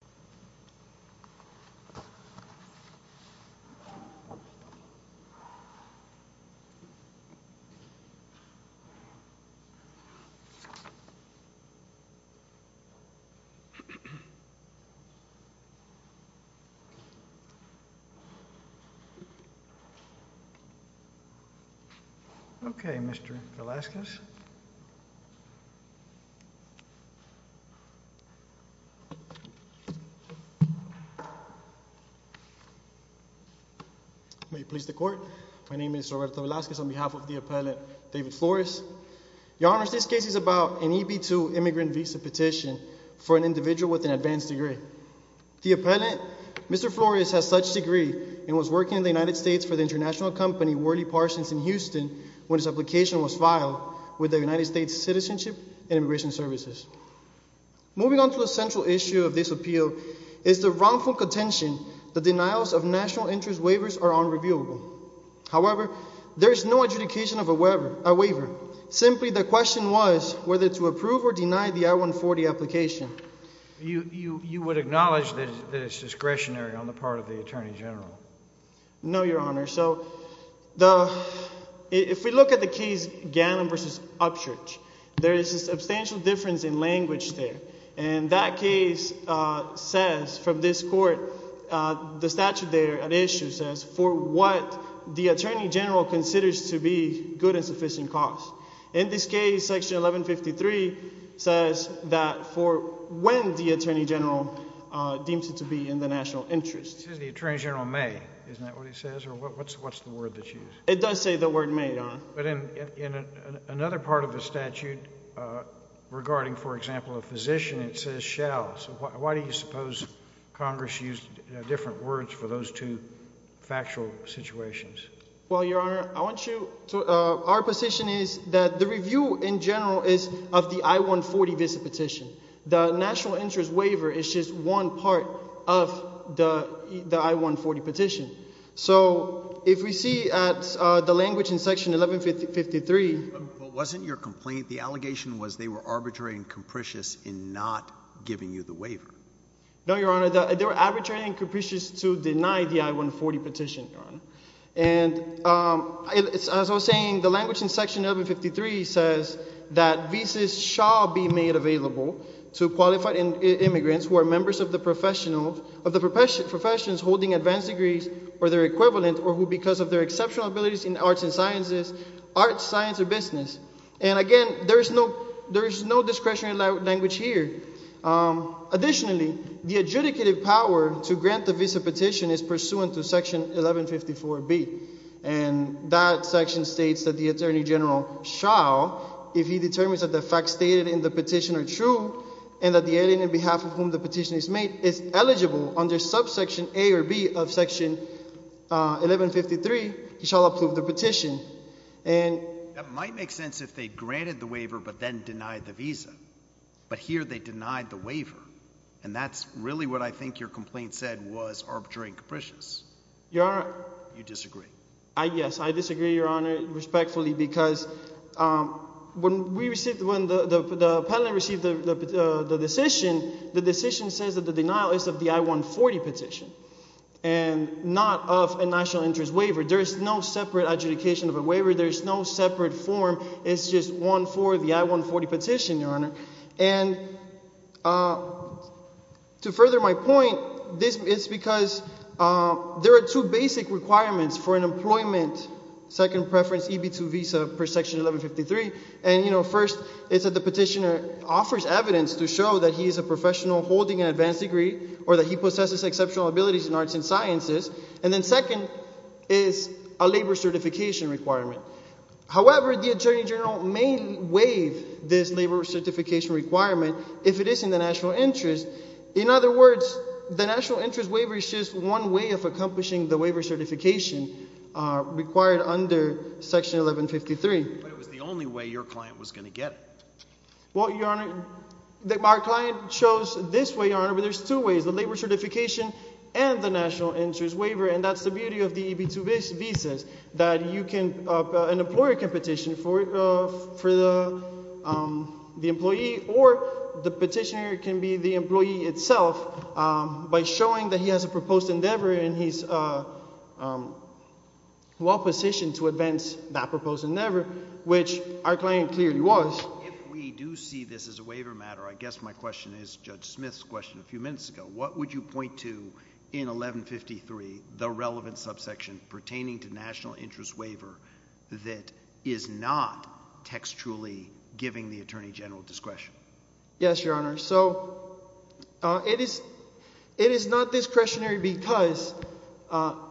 Actually, it's Gary Garland, unfortunately. May it please the court, my name is Roberto Velazquez on behalf of the appellant, David Flores. Your Honor, this case is about an EB-2 immigrant visa petition for an individual with an advanced degree. The appellant, Mr. Flores, has such degree and was working in the United States for the international company Worley Parsons in Houston when his application was filed with the United States Citizenship and Immigration Services. Moving on to the central issue of this appeal is the wrongful contention that denials of national interest waivers are unreviewable. However, there is no adjudication of a waiver. Simply, the question was whether to approve or deny the I-140 application. You would acknowledge that it's discretionary on the part of the Attorney General? No, Your Honor. So, if we look at the case Gannon v. Upchurch, there is a substantial difference in language there. And that case says, from this court, the statute there at issue says, for what the Attorney General considers to be good and sufficient cost. In this case, section 1153 says that for when the Attorney General deems it to be in the national interest. It says the Attorney General may. Isn't that what it says? Or what's the word that's used? It does say the word may, Your Honor. But in another part of the statute, regarding, for example, a physician, it says shall. So, why do you suppose Congress used different words for those two factual situations? Well, Your Honor, I want you to, our position is that the review in general is of the I-140 visit petition. The national interest waiver is just one part of the I-140 petition. So, if we see at the language in section 1153. But wasn't your complaint, the allegation was they were arbitrary and capricious in not giving you the waiver? No, Your Honor. They were arbitrary and capricious to deny the I-140 petition, Your Honor. And as I was saying, the language in section 1153 says that visas shall be made available to qualified immigrants who are members of the professions holding advanced degrees or their equivalent or who because of their exceptional abilities in arts and sciences, arts, science, or business. And again, there is no discretionary language here. Additionally, the adjudicative power to grant the visa petition is pursuant to section 1154B. And that section states that the attorney general shall, if he determines that the facts stated in the petition are true and that the alien on behalf of whom the petition is made is eligible under subsection A or B of section 1153, he shall approve the petition. And that might make sense if they granted the waiver, but then denied the visa. But here they denied the waiver. And that's really what I think your complaint said was arbitrary and capricious. Your Honor. You disagree. Yes. I disagree, Your Honor, respectfully, because when we received, when the appellant received the decision, the decision says that the denial is of the I-140 petition and not of a national interest waiver. There is no separate adjudication of a waiver. There's no separate form. It's just one for the I-140 petition, Your Honor. And to further my point, this is because there are two basic requirements for an employment second preference EB-2 visa per section 1153. And you know, first is that the petitioner offers evidence to show that he is a professional holding an advanced degree or that he possesses exceptional abilities in arts and sciences. And then second is a labor certification requirement. However, the attorney general may waive this labor certification requirement if it is in the national interest. In other words, the national interest waiver is just one way of accomplishing the waiver certification required under section 1153. But it was the only way your client was going to get it. Well, Your Honor, our client chose this way, Your Honor, but there's two ways, the labor certification and the national interest waiver. And that's the beauty of the EB-2 visas, that an employer can petition for the employee or the petitioner can be the employee itself by showing that he has a proposed endeavor and he's well positioned to advance that proposed endeavor, which our client clearly was. If we do see this as a waiver matter, I guess my question is Judge Smith's question a few minutes ago. What would you point to in 1153, the relevant subsection pertaining to national interest waiver that is not textually giving the attorney general discretion? Yes, Your Honor. So it is not discretionary because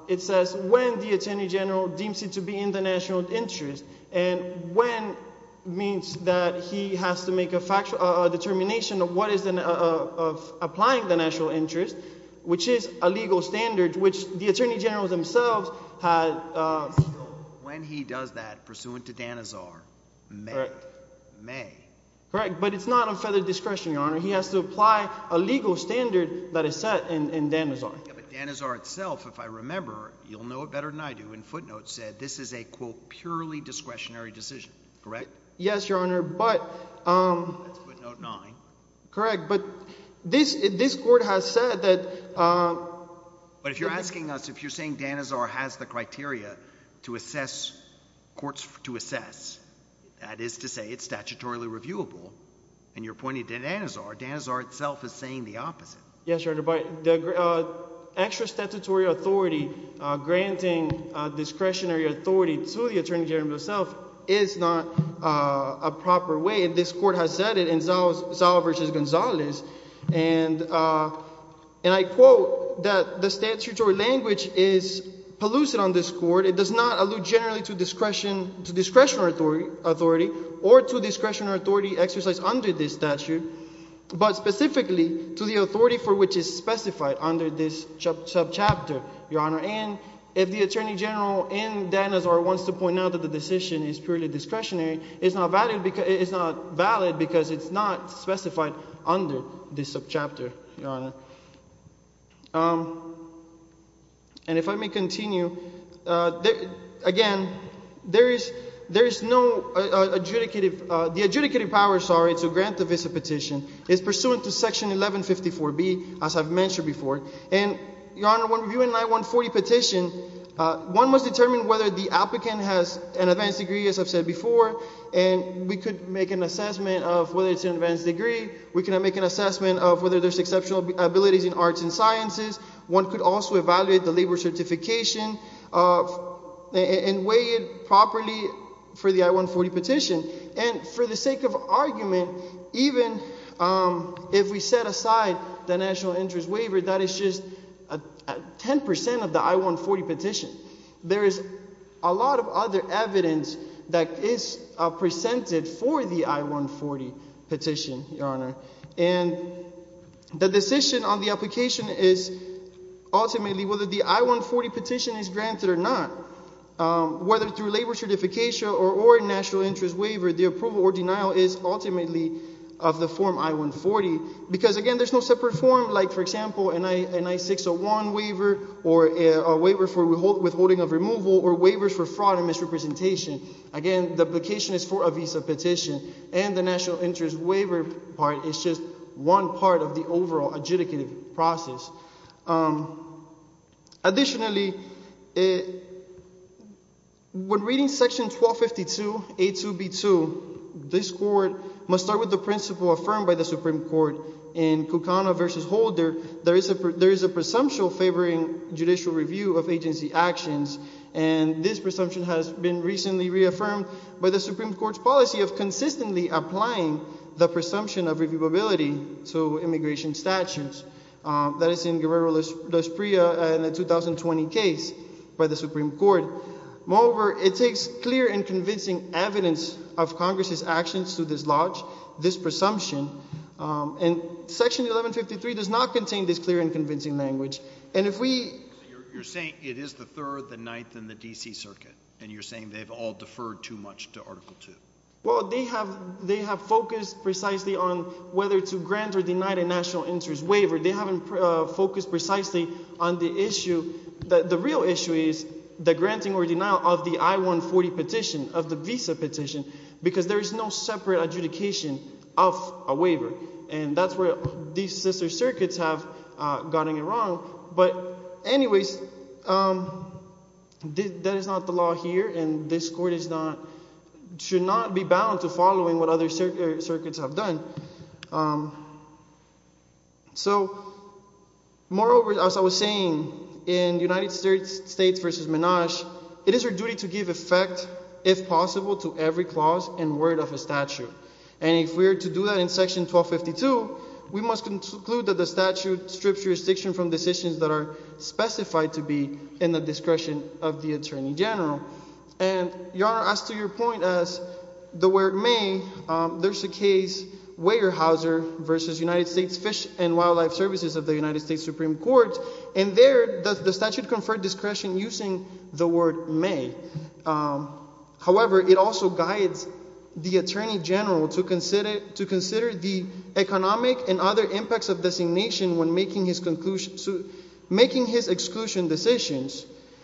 it says when the attorney general deems it to be in the national interest and when means that he has to make a determination of what is applying the national interest, which is a legal standard, which the attorney generals themselves had. When he does that, pursuant to Danazar, may. May. Correct. But it's not on federal discretion, Your Honor. He has to apply a legal standard that is set in Danazar. Yeah, but Danazar itself, if I remember, you'll know it better than I do, in footnotes said this is a, quote, purely discretionary decision, correct? Yes, Your Honor, but. That's footnote nine. Correct, but this court has said that. But if you're asking us, if you're saying Danazar has the criteria to assess, courts to assess, that is to say it's statutorily reviewable, and you're pointing to Danazar, Danazar itself is saying the opposite. Yes, Your Honor, but the extra statutory authority granting discretionary authority to the attorney general himself is not a proper way. This court has said it in Zao versus Gonzalez, and I quote that the statutory language is pellucid on this court. It does not allude generally to discretionary authority or to discretionary authority exercised under this statute, but specifically to the authority for which is specified under this subchapter, Your Honor, and if the attorney general in Danazar wants to point out that the decision is purely discretionary, it's not valid because it's not specified under this subchapter, Your Honor. And if I may continue, again, there is no adjudicative, the adjudicative power, sorry, to grant the visa petition is pursuant to section 1154B, as I've mentioned before. And Your Honor, when reviewing an I-140 petition, one must determine whether the applicant has an advanced degree, as I've said before, and we could make an assessment of whether it's an advanced degree. We can make an assessment of whether there's exceptional abilities in arts and sciences. One could also evaluate the labor certification and weigh it properly for the I-140 petition. And for the sake of argument, even if we set aside the National Interest Waiver, that is just 10% of the I-140 petition. There is a lot of other evidence that is presented for the I-140 petition, Your Honor, and the decision on the application is ultimately whether the I-140 petition is granted or not. Whether through labor certification or a National Interest Waiver, the approval or denial is ultimately of the form I-140, because again, there's no separate form, like for example, an I-601 waiver, or a waiver for withholding of removal, or waivers for fraud and misrepresentation. Again, the application is for a visa petition, and the National Interest Waiver part is just one part of the overall adjudicative process. Additionally, when reading Section 1252, A2B2, this Court must start with the principle affirmed by the Supreme Court in Cucana v. Holder, there is a presumption favoring judicial review of agency actions, and this presumption has been recently reaffirmed by the Supreme Court's policy of consistently applying the presumption of reviewability to immigration statutes. That is in Guerrero-Los Prias in the 2020 case by the Supreme Court. Moreover, it takes clear and convincing evidence of Congress's actions to dislodge this presumption, and Section 1153 does not contain this clear and convincing language, and if we— So you're saying it is the Third, the Ninth, and the D.C. Circuit, and you're saying they've all deferred too much to Article II? Well, they have focused precisely on whether to grant or deny the National Interest Waiver. They haven't focused precisely on the issue—the real issue is the granting or denial of the I-140 petition, of the visa petition, because there is no separate adjudication of a waiver, and that's where these sister circuits have gotten it wrong, but anyways, that is not the law here, and this Court is not—should not be bound to following what other circuits have done. So moreover, as I was saying, in United States v. Minaj, it is our duty to give effect, if possible, to every clause and word of a statute, and if we are to do that in Section 1252, we must conclude that the statute strips jurisdiction from decisions that are specified to be in the discretion of the Attorney General, and, Your Honor, as to your point as the word may, there's a case, Weyerhaeuser v. United States Fish and Wildlife Services of the United States Supreme Court, and there, the statute conferred discretion using the word may. However, it also guides the Attorney General to consider the economic and other impacts of designation when making his exclusion decisions,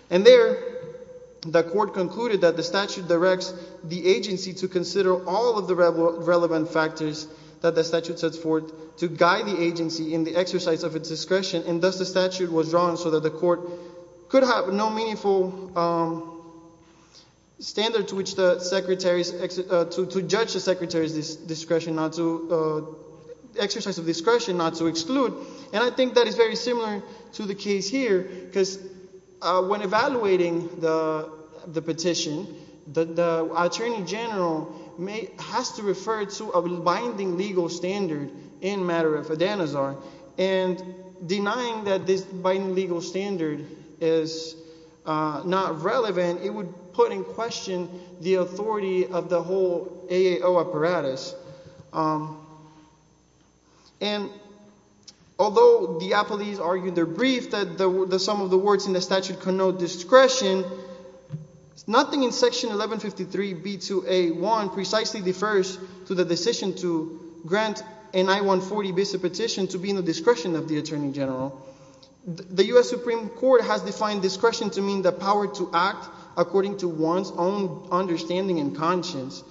and there, the Court concluded that the statute directs the agency to consider all of the relevant factors that the statute sets forth to guide the agency in the exercise of its discretion, and thus, the statute was drawn so that the Court could have no meaningful standard to which the Secretary's—to judge the Secretary's discretion not to—exercise of discretion not to exclude, and I think that is very similar to the case here, because when evaluating the petition, the Attorney General may—has to refer to a binding legal standard in matter of Adanazar, and denying that this binding legal standard is not relevant, it would put in question the authority of the whole AAO apparatus. And although Diapoles argued their brief that the sum of the words in the statute connote discretion, nothing in Section 1153B2A1 precisely defers to the decision to grant an I-140 visa petition to be in the discretion of the Attorney General. The U.S. Supreme Court has defined discretion to mean the power to act according to one's own understanding and conscience,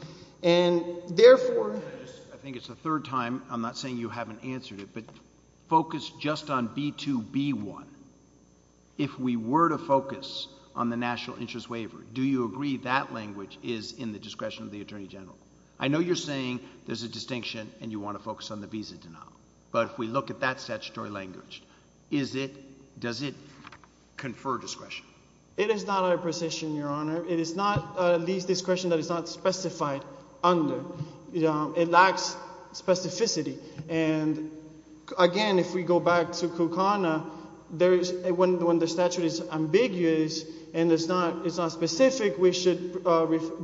and therefore— I think it's the third time—I'm not saying you haven't answered it, but focus just on B2B1. If we were to focus on the National Interest Waiver, do you agree that language is in the discretion of the Attorney General? I know you're saying there's a distinction and you want to focus on the visa denial, but if we look at that statutory language, is it—does it confer discretion? It is not our position, Your Honor. It is not at least discretion that is not specified under. It lacks specificity. And again, if we go back to Kukana, when the statute is ambiguous and it's not specific, we should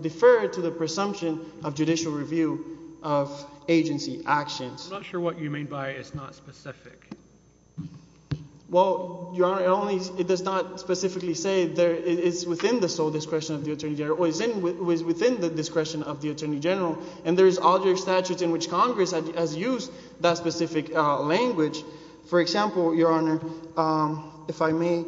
defer to the presumption of judicial review of agency actions. I'm not sure what you mean by it's not specific. Well, Your Honor, it only—it does not specifically say there—it's within the sole discretion of the Attorney General, or it's within the discretion of the Attorney General, and there is other statutes in which Congress has used that specific language. For example, Your Honor, if I may,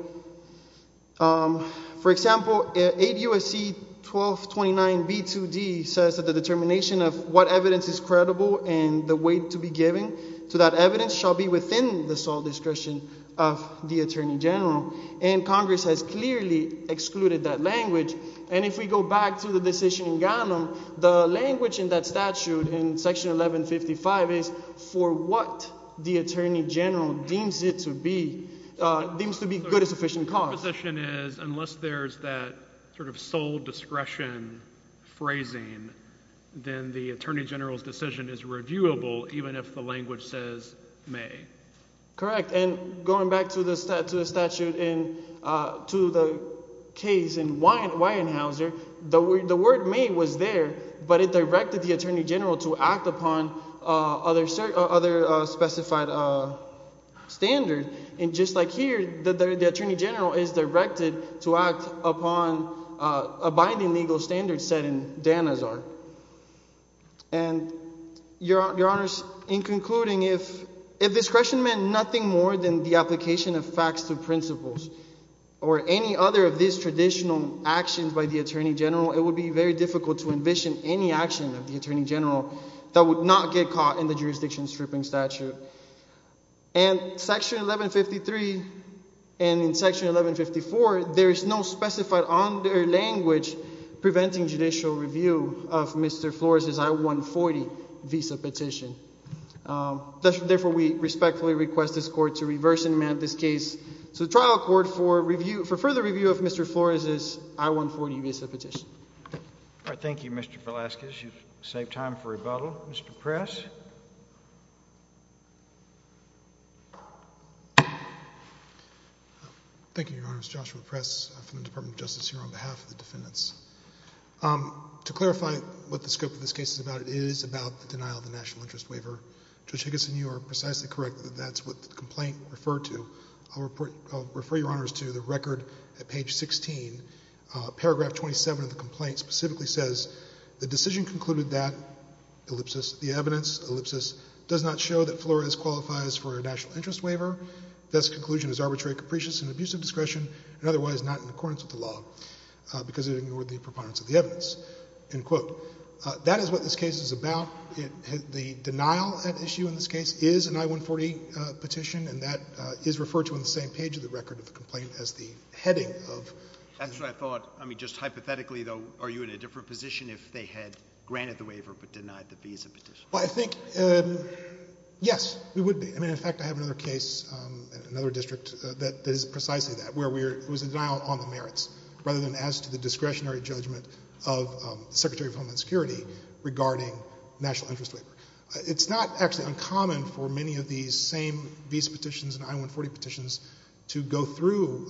for example, 8 U.S.C. 1229 B2D says that the determination of what evidence is credible and the weight to be given to that evidence shall be within the sole discretion of the Attorney General, and Congress has clearly excluded that language. And if we go back to the decision in Gannon, the language in that statute in Section 1155 is for what the Attorney General deems it to be—deems to be good and sufficient cause. So the proposition is, unless there's that sort of sole discretion phrasing, then the Attorney General's decision is reviewable, even if the language says may. Correct. And going back to the statute in—to the case in Weyenhaeuser, the word may was there, but it directed the Attorney General to act upon other specified standards, and just like here, the Attorney General is directed to act upon abiding legal standards set in Danazar. And Your Honors, in concluding, if discretion meant nothing more than the application of facts to principles or any other of these traditional actions by the Attorney General, it would be very difficult to envision any action of the Attorney General that would not get caught in the jurisdiction stripping statute. And Section 1153 and in Section 1154, there is no specified on their language preventing judicial review of Mr. Flores' I-140 visa petition. Therefore, we respectfully request this Court to reverse enact this case to the trial court for review—for further review of Mr. Flores' I-140 visa petition. All right. Thank you, Mr. Velazquez. You've saved time for rebuttal. Mr. Press? Thank you, Your Honors. Joshua Press from the Department of Justice here on behalf of the defendants. To clarify what the scope of this case is about, it is about the denial of the National Interest Waiver. Judge Higginson, you are precisely correct that that's what the complaint referred to. I'll refer Your Honors to the record at page 16. Paragraph 27 of the complaint specifically says, the decision concluded that, ellipsis, the evidence, ellipsis, does not show that Flores qualifies for a National Interest Waiver. Thus conclusion is arbitrary, capricious, and an abuse of discretion and otherwise not in accordance with the law because it ignored the preponderance of the evidence, end quote. That is what this case is about. The denial at issue in this case is an I-140 petition, and that is referred to in the same page of the record of the complaint as the heading of the petition. That's what I thought. I mean, just hypothetically, though, are you in a different position if they had granted the waiver but denied the visa petition? Well, I think, yes, we would be. I mean, in fact, I have another case, another district that is precisely that, where we're, it was a denial on the merits rather than as to the discretionary judgment of the Secretary of Homeland Security regarding National Interest Waiver. It's not actually uncommon for many of these same visa petitions and I-140 petitions to go through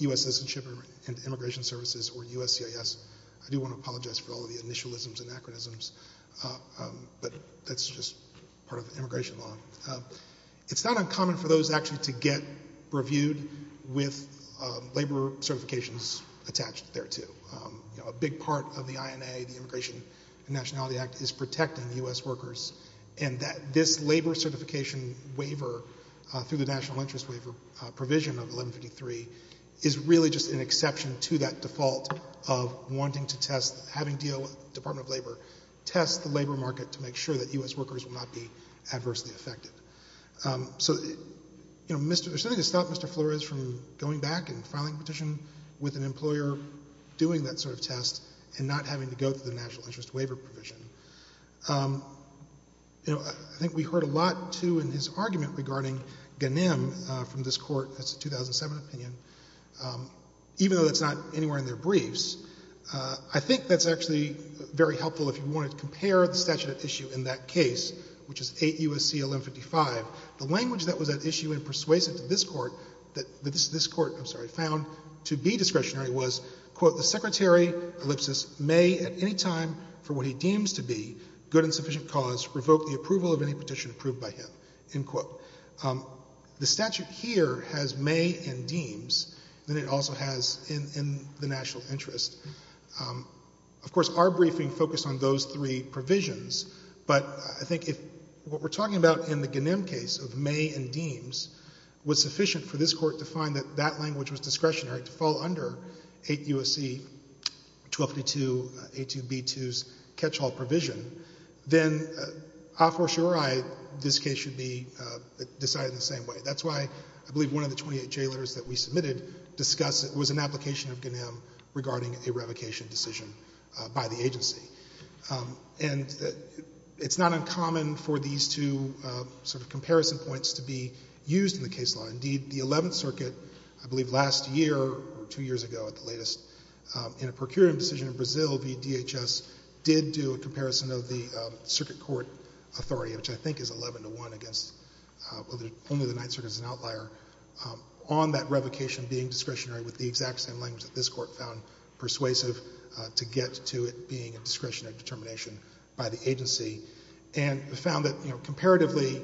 USS and Shipping and Immigration Services or USCIS. I do want to apologize for all of the initialisms and anachronisms, but that's just part of the immigration law. It's not uncommon for those actually to get reviewed with labor certifications attached thereto. You know, a big part of the INA, the Immigration and Nationality Act, is protecting U.S. workers and that this labor certification waiver through the National Interest Waiver provision of wanting to test, having DO, Department of Labor, test the labor market to make sure that U.S. workers will not be adversely affected. So, you know, there's nothing to stop Mr. Flores from going back and filing a petition with an employer doing that sort of test and not having to go through the National Interest Waiver provision. You know, I think we heard a lot, too, in his argument regarding Ganem from this court, that's a 2007 opinion, even though that's not anywhere in their briefs. I think that's actually very helpful if you wanted to compare the statute at issue in that case, which is 8 U.S.C. 1155. The language that was at issue and persuasive to this court, I'm sorry, found to be discretionary was, quote, the Secretary, ellipsis, may at any time for what he deems to be good and sufficient cause revoke the approval of any petition approved by him, end quote. The statute here has may and deems, and it also has in the national interest. Of course, our briefing focused on those three provisions, but I think if what we're talking about in the Ganem case of may and deems was sufficient for this court to find that that language was discretionary to fall under 8 U.S.C. 1232, A2B2's catch-all provision, then ah, for sure I, this case should be decided in the same way. That's why I believe one of the 28 J letters that we submitted discussed it was an application of Ganem regarding a revocation decision by the agency. And it's not uncommon for these two sort of comparison points to be used in the case law. Indeed, the 11th Circuit, I believe last year or two years ago at the latest, in a procuring decision in Brazil, the DHS did do a comparison of the circuit court authority, which I think is 11 to 1 against, only the 9th Circuit is an outlier, on that revocation being discretionary with the exact same language that this court found persuasive to get to it being a discretionary determination by the agency. And we found that, you know, comparatively,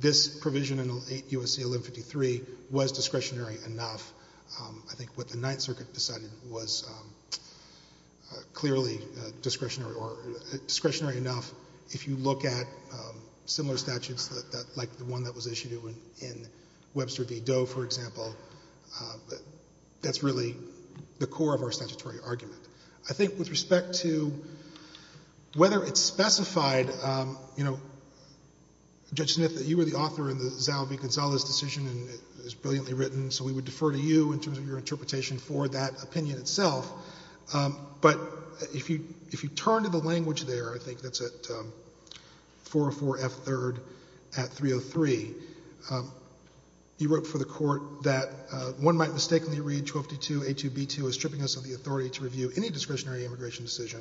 this provision in 8 U.S.C. 1153 was discretionary enough. I think what the 9th Circuit decided was clearly discretionary or discretionary enough. If you look at similar statutes like the one that was issued in Webster v. Doe, for example, that's really the core of our statutory argument. I think with respect to whether it's specified, you know, Judge Smith, you were the author in the Zalvi-Gonzalez decision and it was brilliantly written, so we would defer to you in terms of your interpretation for that opinion itself. But if you turn to the language there, I think that's at 404 F. 3rd at 303, you wrote for the court that one might mistakenly read 1252 A. 2 B. 2 as stripping us of the authority to review any discretionary immigration decision.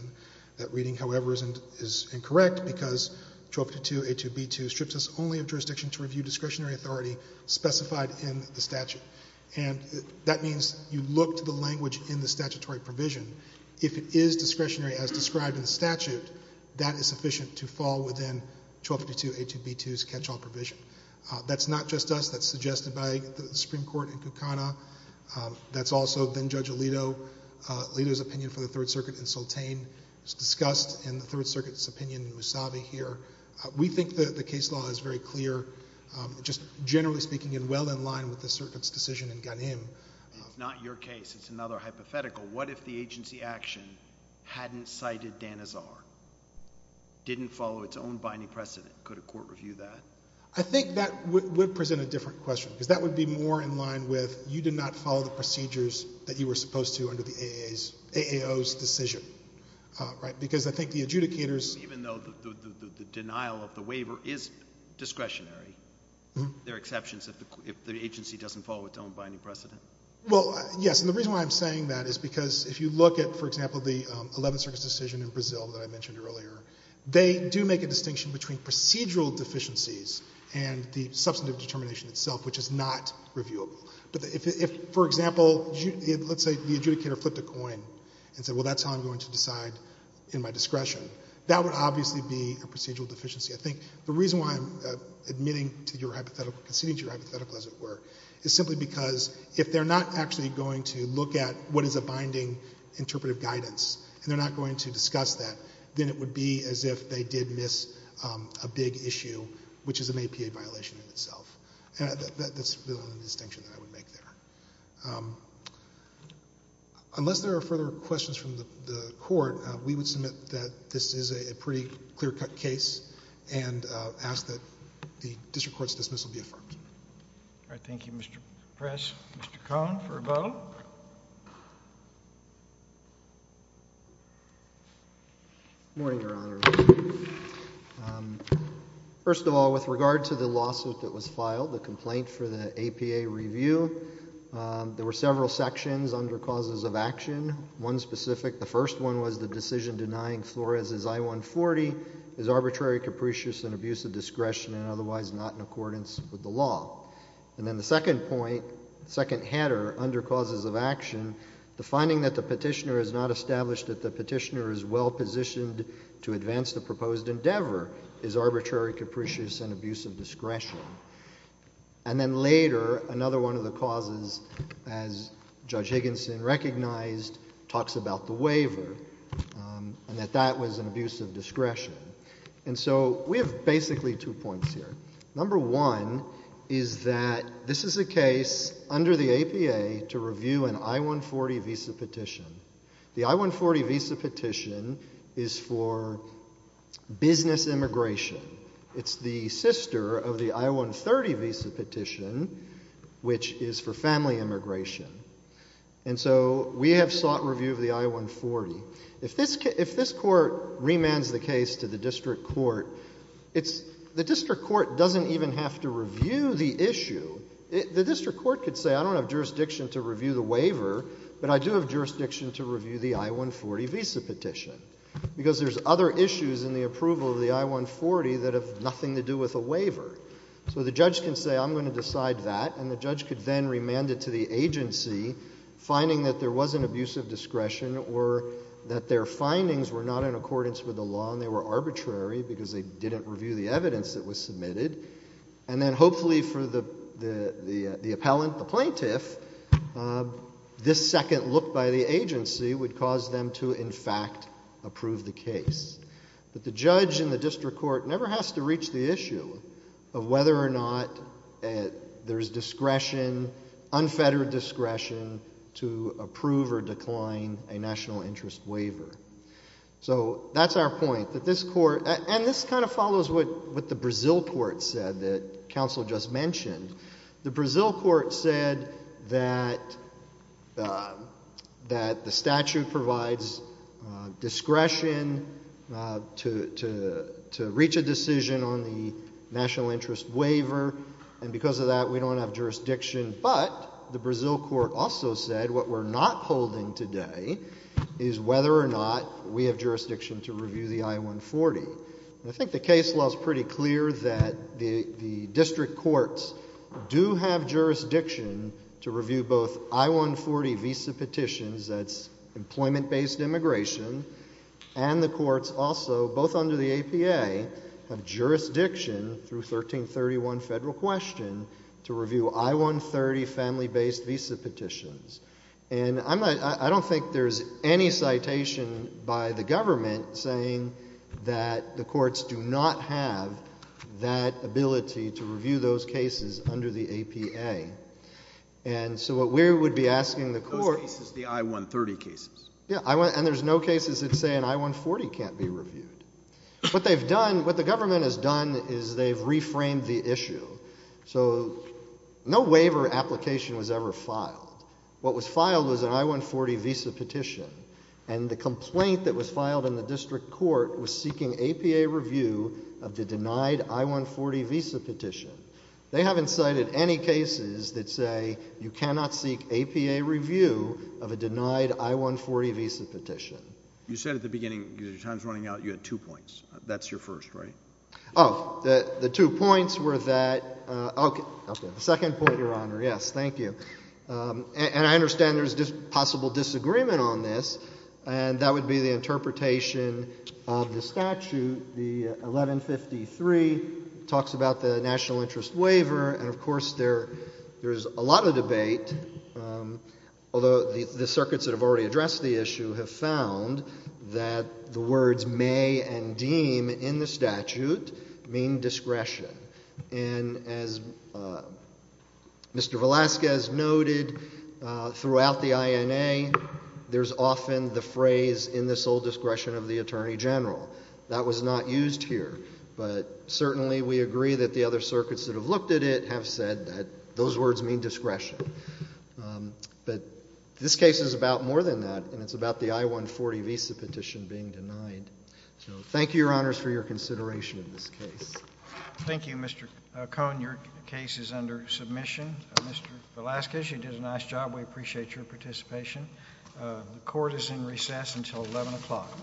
That reading, however, is incorrect because 1252 A. 2 B. 2 strips us only of jurisdiction to review discretionary authority specified in the statute. And that means you look to the language in the statutory provision. If it is discretionary as described in the statute, that is sufficient to fall within 1252 A. 2 B. 2's catch-all provision. That's not just us. That's suggested by the Supreme Court in Kukana. That's also been Judge Alito's opinion for the 3rd Circuit in Sultane. It's discussed in the 3rd Circuit's opinion in Musavi here. We think the case law is very clear, just generally speaking, and well in line with the circuit's decision in Ghanem. It's not your case. It's another hypothetical. What if the agency action hadn't cited Danazar, didn't follow its own binding precedent? Could a court review that? I think that would present a different question because that would be more in line with you did not follow the procedures that you were supposed to under the AAO's decision, right? Because I think the adjudicators... If the denial of the waiver is discretionary, there are exceptions if the agency doesn't follow its own binding precedent. Well, yes. And the reason why I'm saying that is because if you look at, for example, the 11th Circuit's decision in Brazil that I mentioned earlier, they do make a distinction between procedural deficiencies and the substantive determination itself, which is not reviewable. But if, for example, let's say the adjudicator flipped a coin and said, well, that's how I'm going to decide in my discretion. That would obviously be a procedural deficiency. I think the reason why I'm admitting to your hypothetical, conceding to your hypothetical, as it were, is simply because if they're not actually going to look at what is a binding interpretive guidance and they're not going to discuss that, then it would be as if they did miss a big issue, which is an APA violation in itself. And that's the only distinction that I would make there. Unless there are further questions from the Court, we would submit that this is a pretty clear-cut case and ask that the district court's dismissal be affirmed. All right. Thank you, Mr. Press. Mr. Cohn for a vote. Good morning, Your Honor. First of all, with regard to the lawsuit that was filed, the complaint for the APA review, there were several sections under causes of action, one specific. The first one was the decision denying Flores' I-140 is arbitrary, capricious, and abuse of discretion and otherwise not in accordance with the law. And then the second point, second header, under causes of action, the finding that the petitioner has not established that the petitioner is well-positioned to advance the proposed endeavor is arbitrary, capricious, and abuse of discretion. And then later, another one of the causes, as Judge Higginson recognized, talks about the waiver and that that was an abuse of discretion. And so we have basically two points here. Number one is that this is a case under the APA to review an I-140 visa petition. The I-140 visa petition is for business immigration. It's the sister of the I-130 visa petition, which is for family immigration. And so we have sought review of the I-140. If this court remands the case to the district court, the district court doesn't even have to review the issue. The district court could say, I don't have jurisdiction to review the waiver, but I do have jurisdiction to review the I-140 visa petition because there's other issues in the I-140 that have nothing to do with a waiver. So the judge can say, I'm going to decide that, and the judge could then remand it to the agency, finding that there was an abuse of discretion or that their findings were not in accordance with the law and they were arbitrary because they didn't review the evidence that was submitted. And then hopefully for the appellant, the plaintiff, this second look by the agency would cause them to, in fact, approve the case. But the judge in the district court never has to reach the issue of whether or not there's discretion, unfettered discretion, to approve or decline a national interest waiver. So that's our point, that this court, and this kind of follows what the Brazil court said that counsel just mentioned. The Brazil court said that the statute provides discretion to reach a decision on the national interest waiver, and because of that, we don't have jurisdiction, but the Brazil court also said what we're not holding today is whether or not we have jurisdiction to review the I-140. I think the case law is pretty clear that the district courts do have jurisdiction to review both I-140 visa petitions, that's employment-based immigration, and the courts also, both under the APA, have jurisdiction through 1331 Federal Question to review I-130 family-based visa petitions. And I'm not, I don't think there's any citation by the government saying that the courts do not have that ability to review those cases under the APA. And so what we would be asking the court- Those cases, the I-130 cases. Yeah, and there's no cases that say an I-140 can't be reviewed. What they've done, what the government has done is they've reframed the issue. So no waiver application was ever filed. What was filed was an I-140 visa petition, and the complaint that was filed in the district court was seeking APA review of the denied I-140 visa petition. They haven't cited any cases that say you cannot seek APA review of a denied I-140 visa petition. You said at the beginning, because your time's running out, you had two points. That's your first, right? Oh, the two points were that, okay, the second point, Your Honor, yes, thank you. And I understand there's possible disagreement on this, and that would be the interpretation of the statute, the 1153, talks about the national interest waiver, and of course there's a lot of debate, although the circuits that have already addressed the issue have found that the words may and deem in the statute mean discretion. And as Mr. Velasquez noted, throughout the INA, there's often the phrase, in the sole discretion of the Attorney General. That was not used here, but certainly we agree that the other circuits that have looked at it have said that those words mean discretion. But this case is about more than that, and it's about the I-140 visa petition being denied. So thank you, Your Honors, for your consideration of this case. Thank you, Mr. Cohn. Your case is under submission. Mr. Velasquez, you did a nice job. We appreciate your participation. The Court is in recess until 11 o'clock.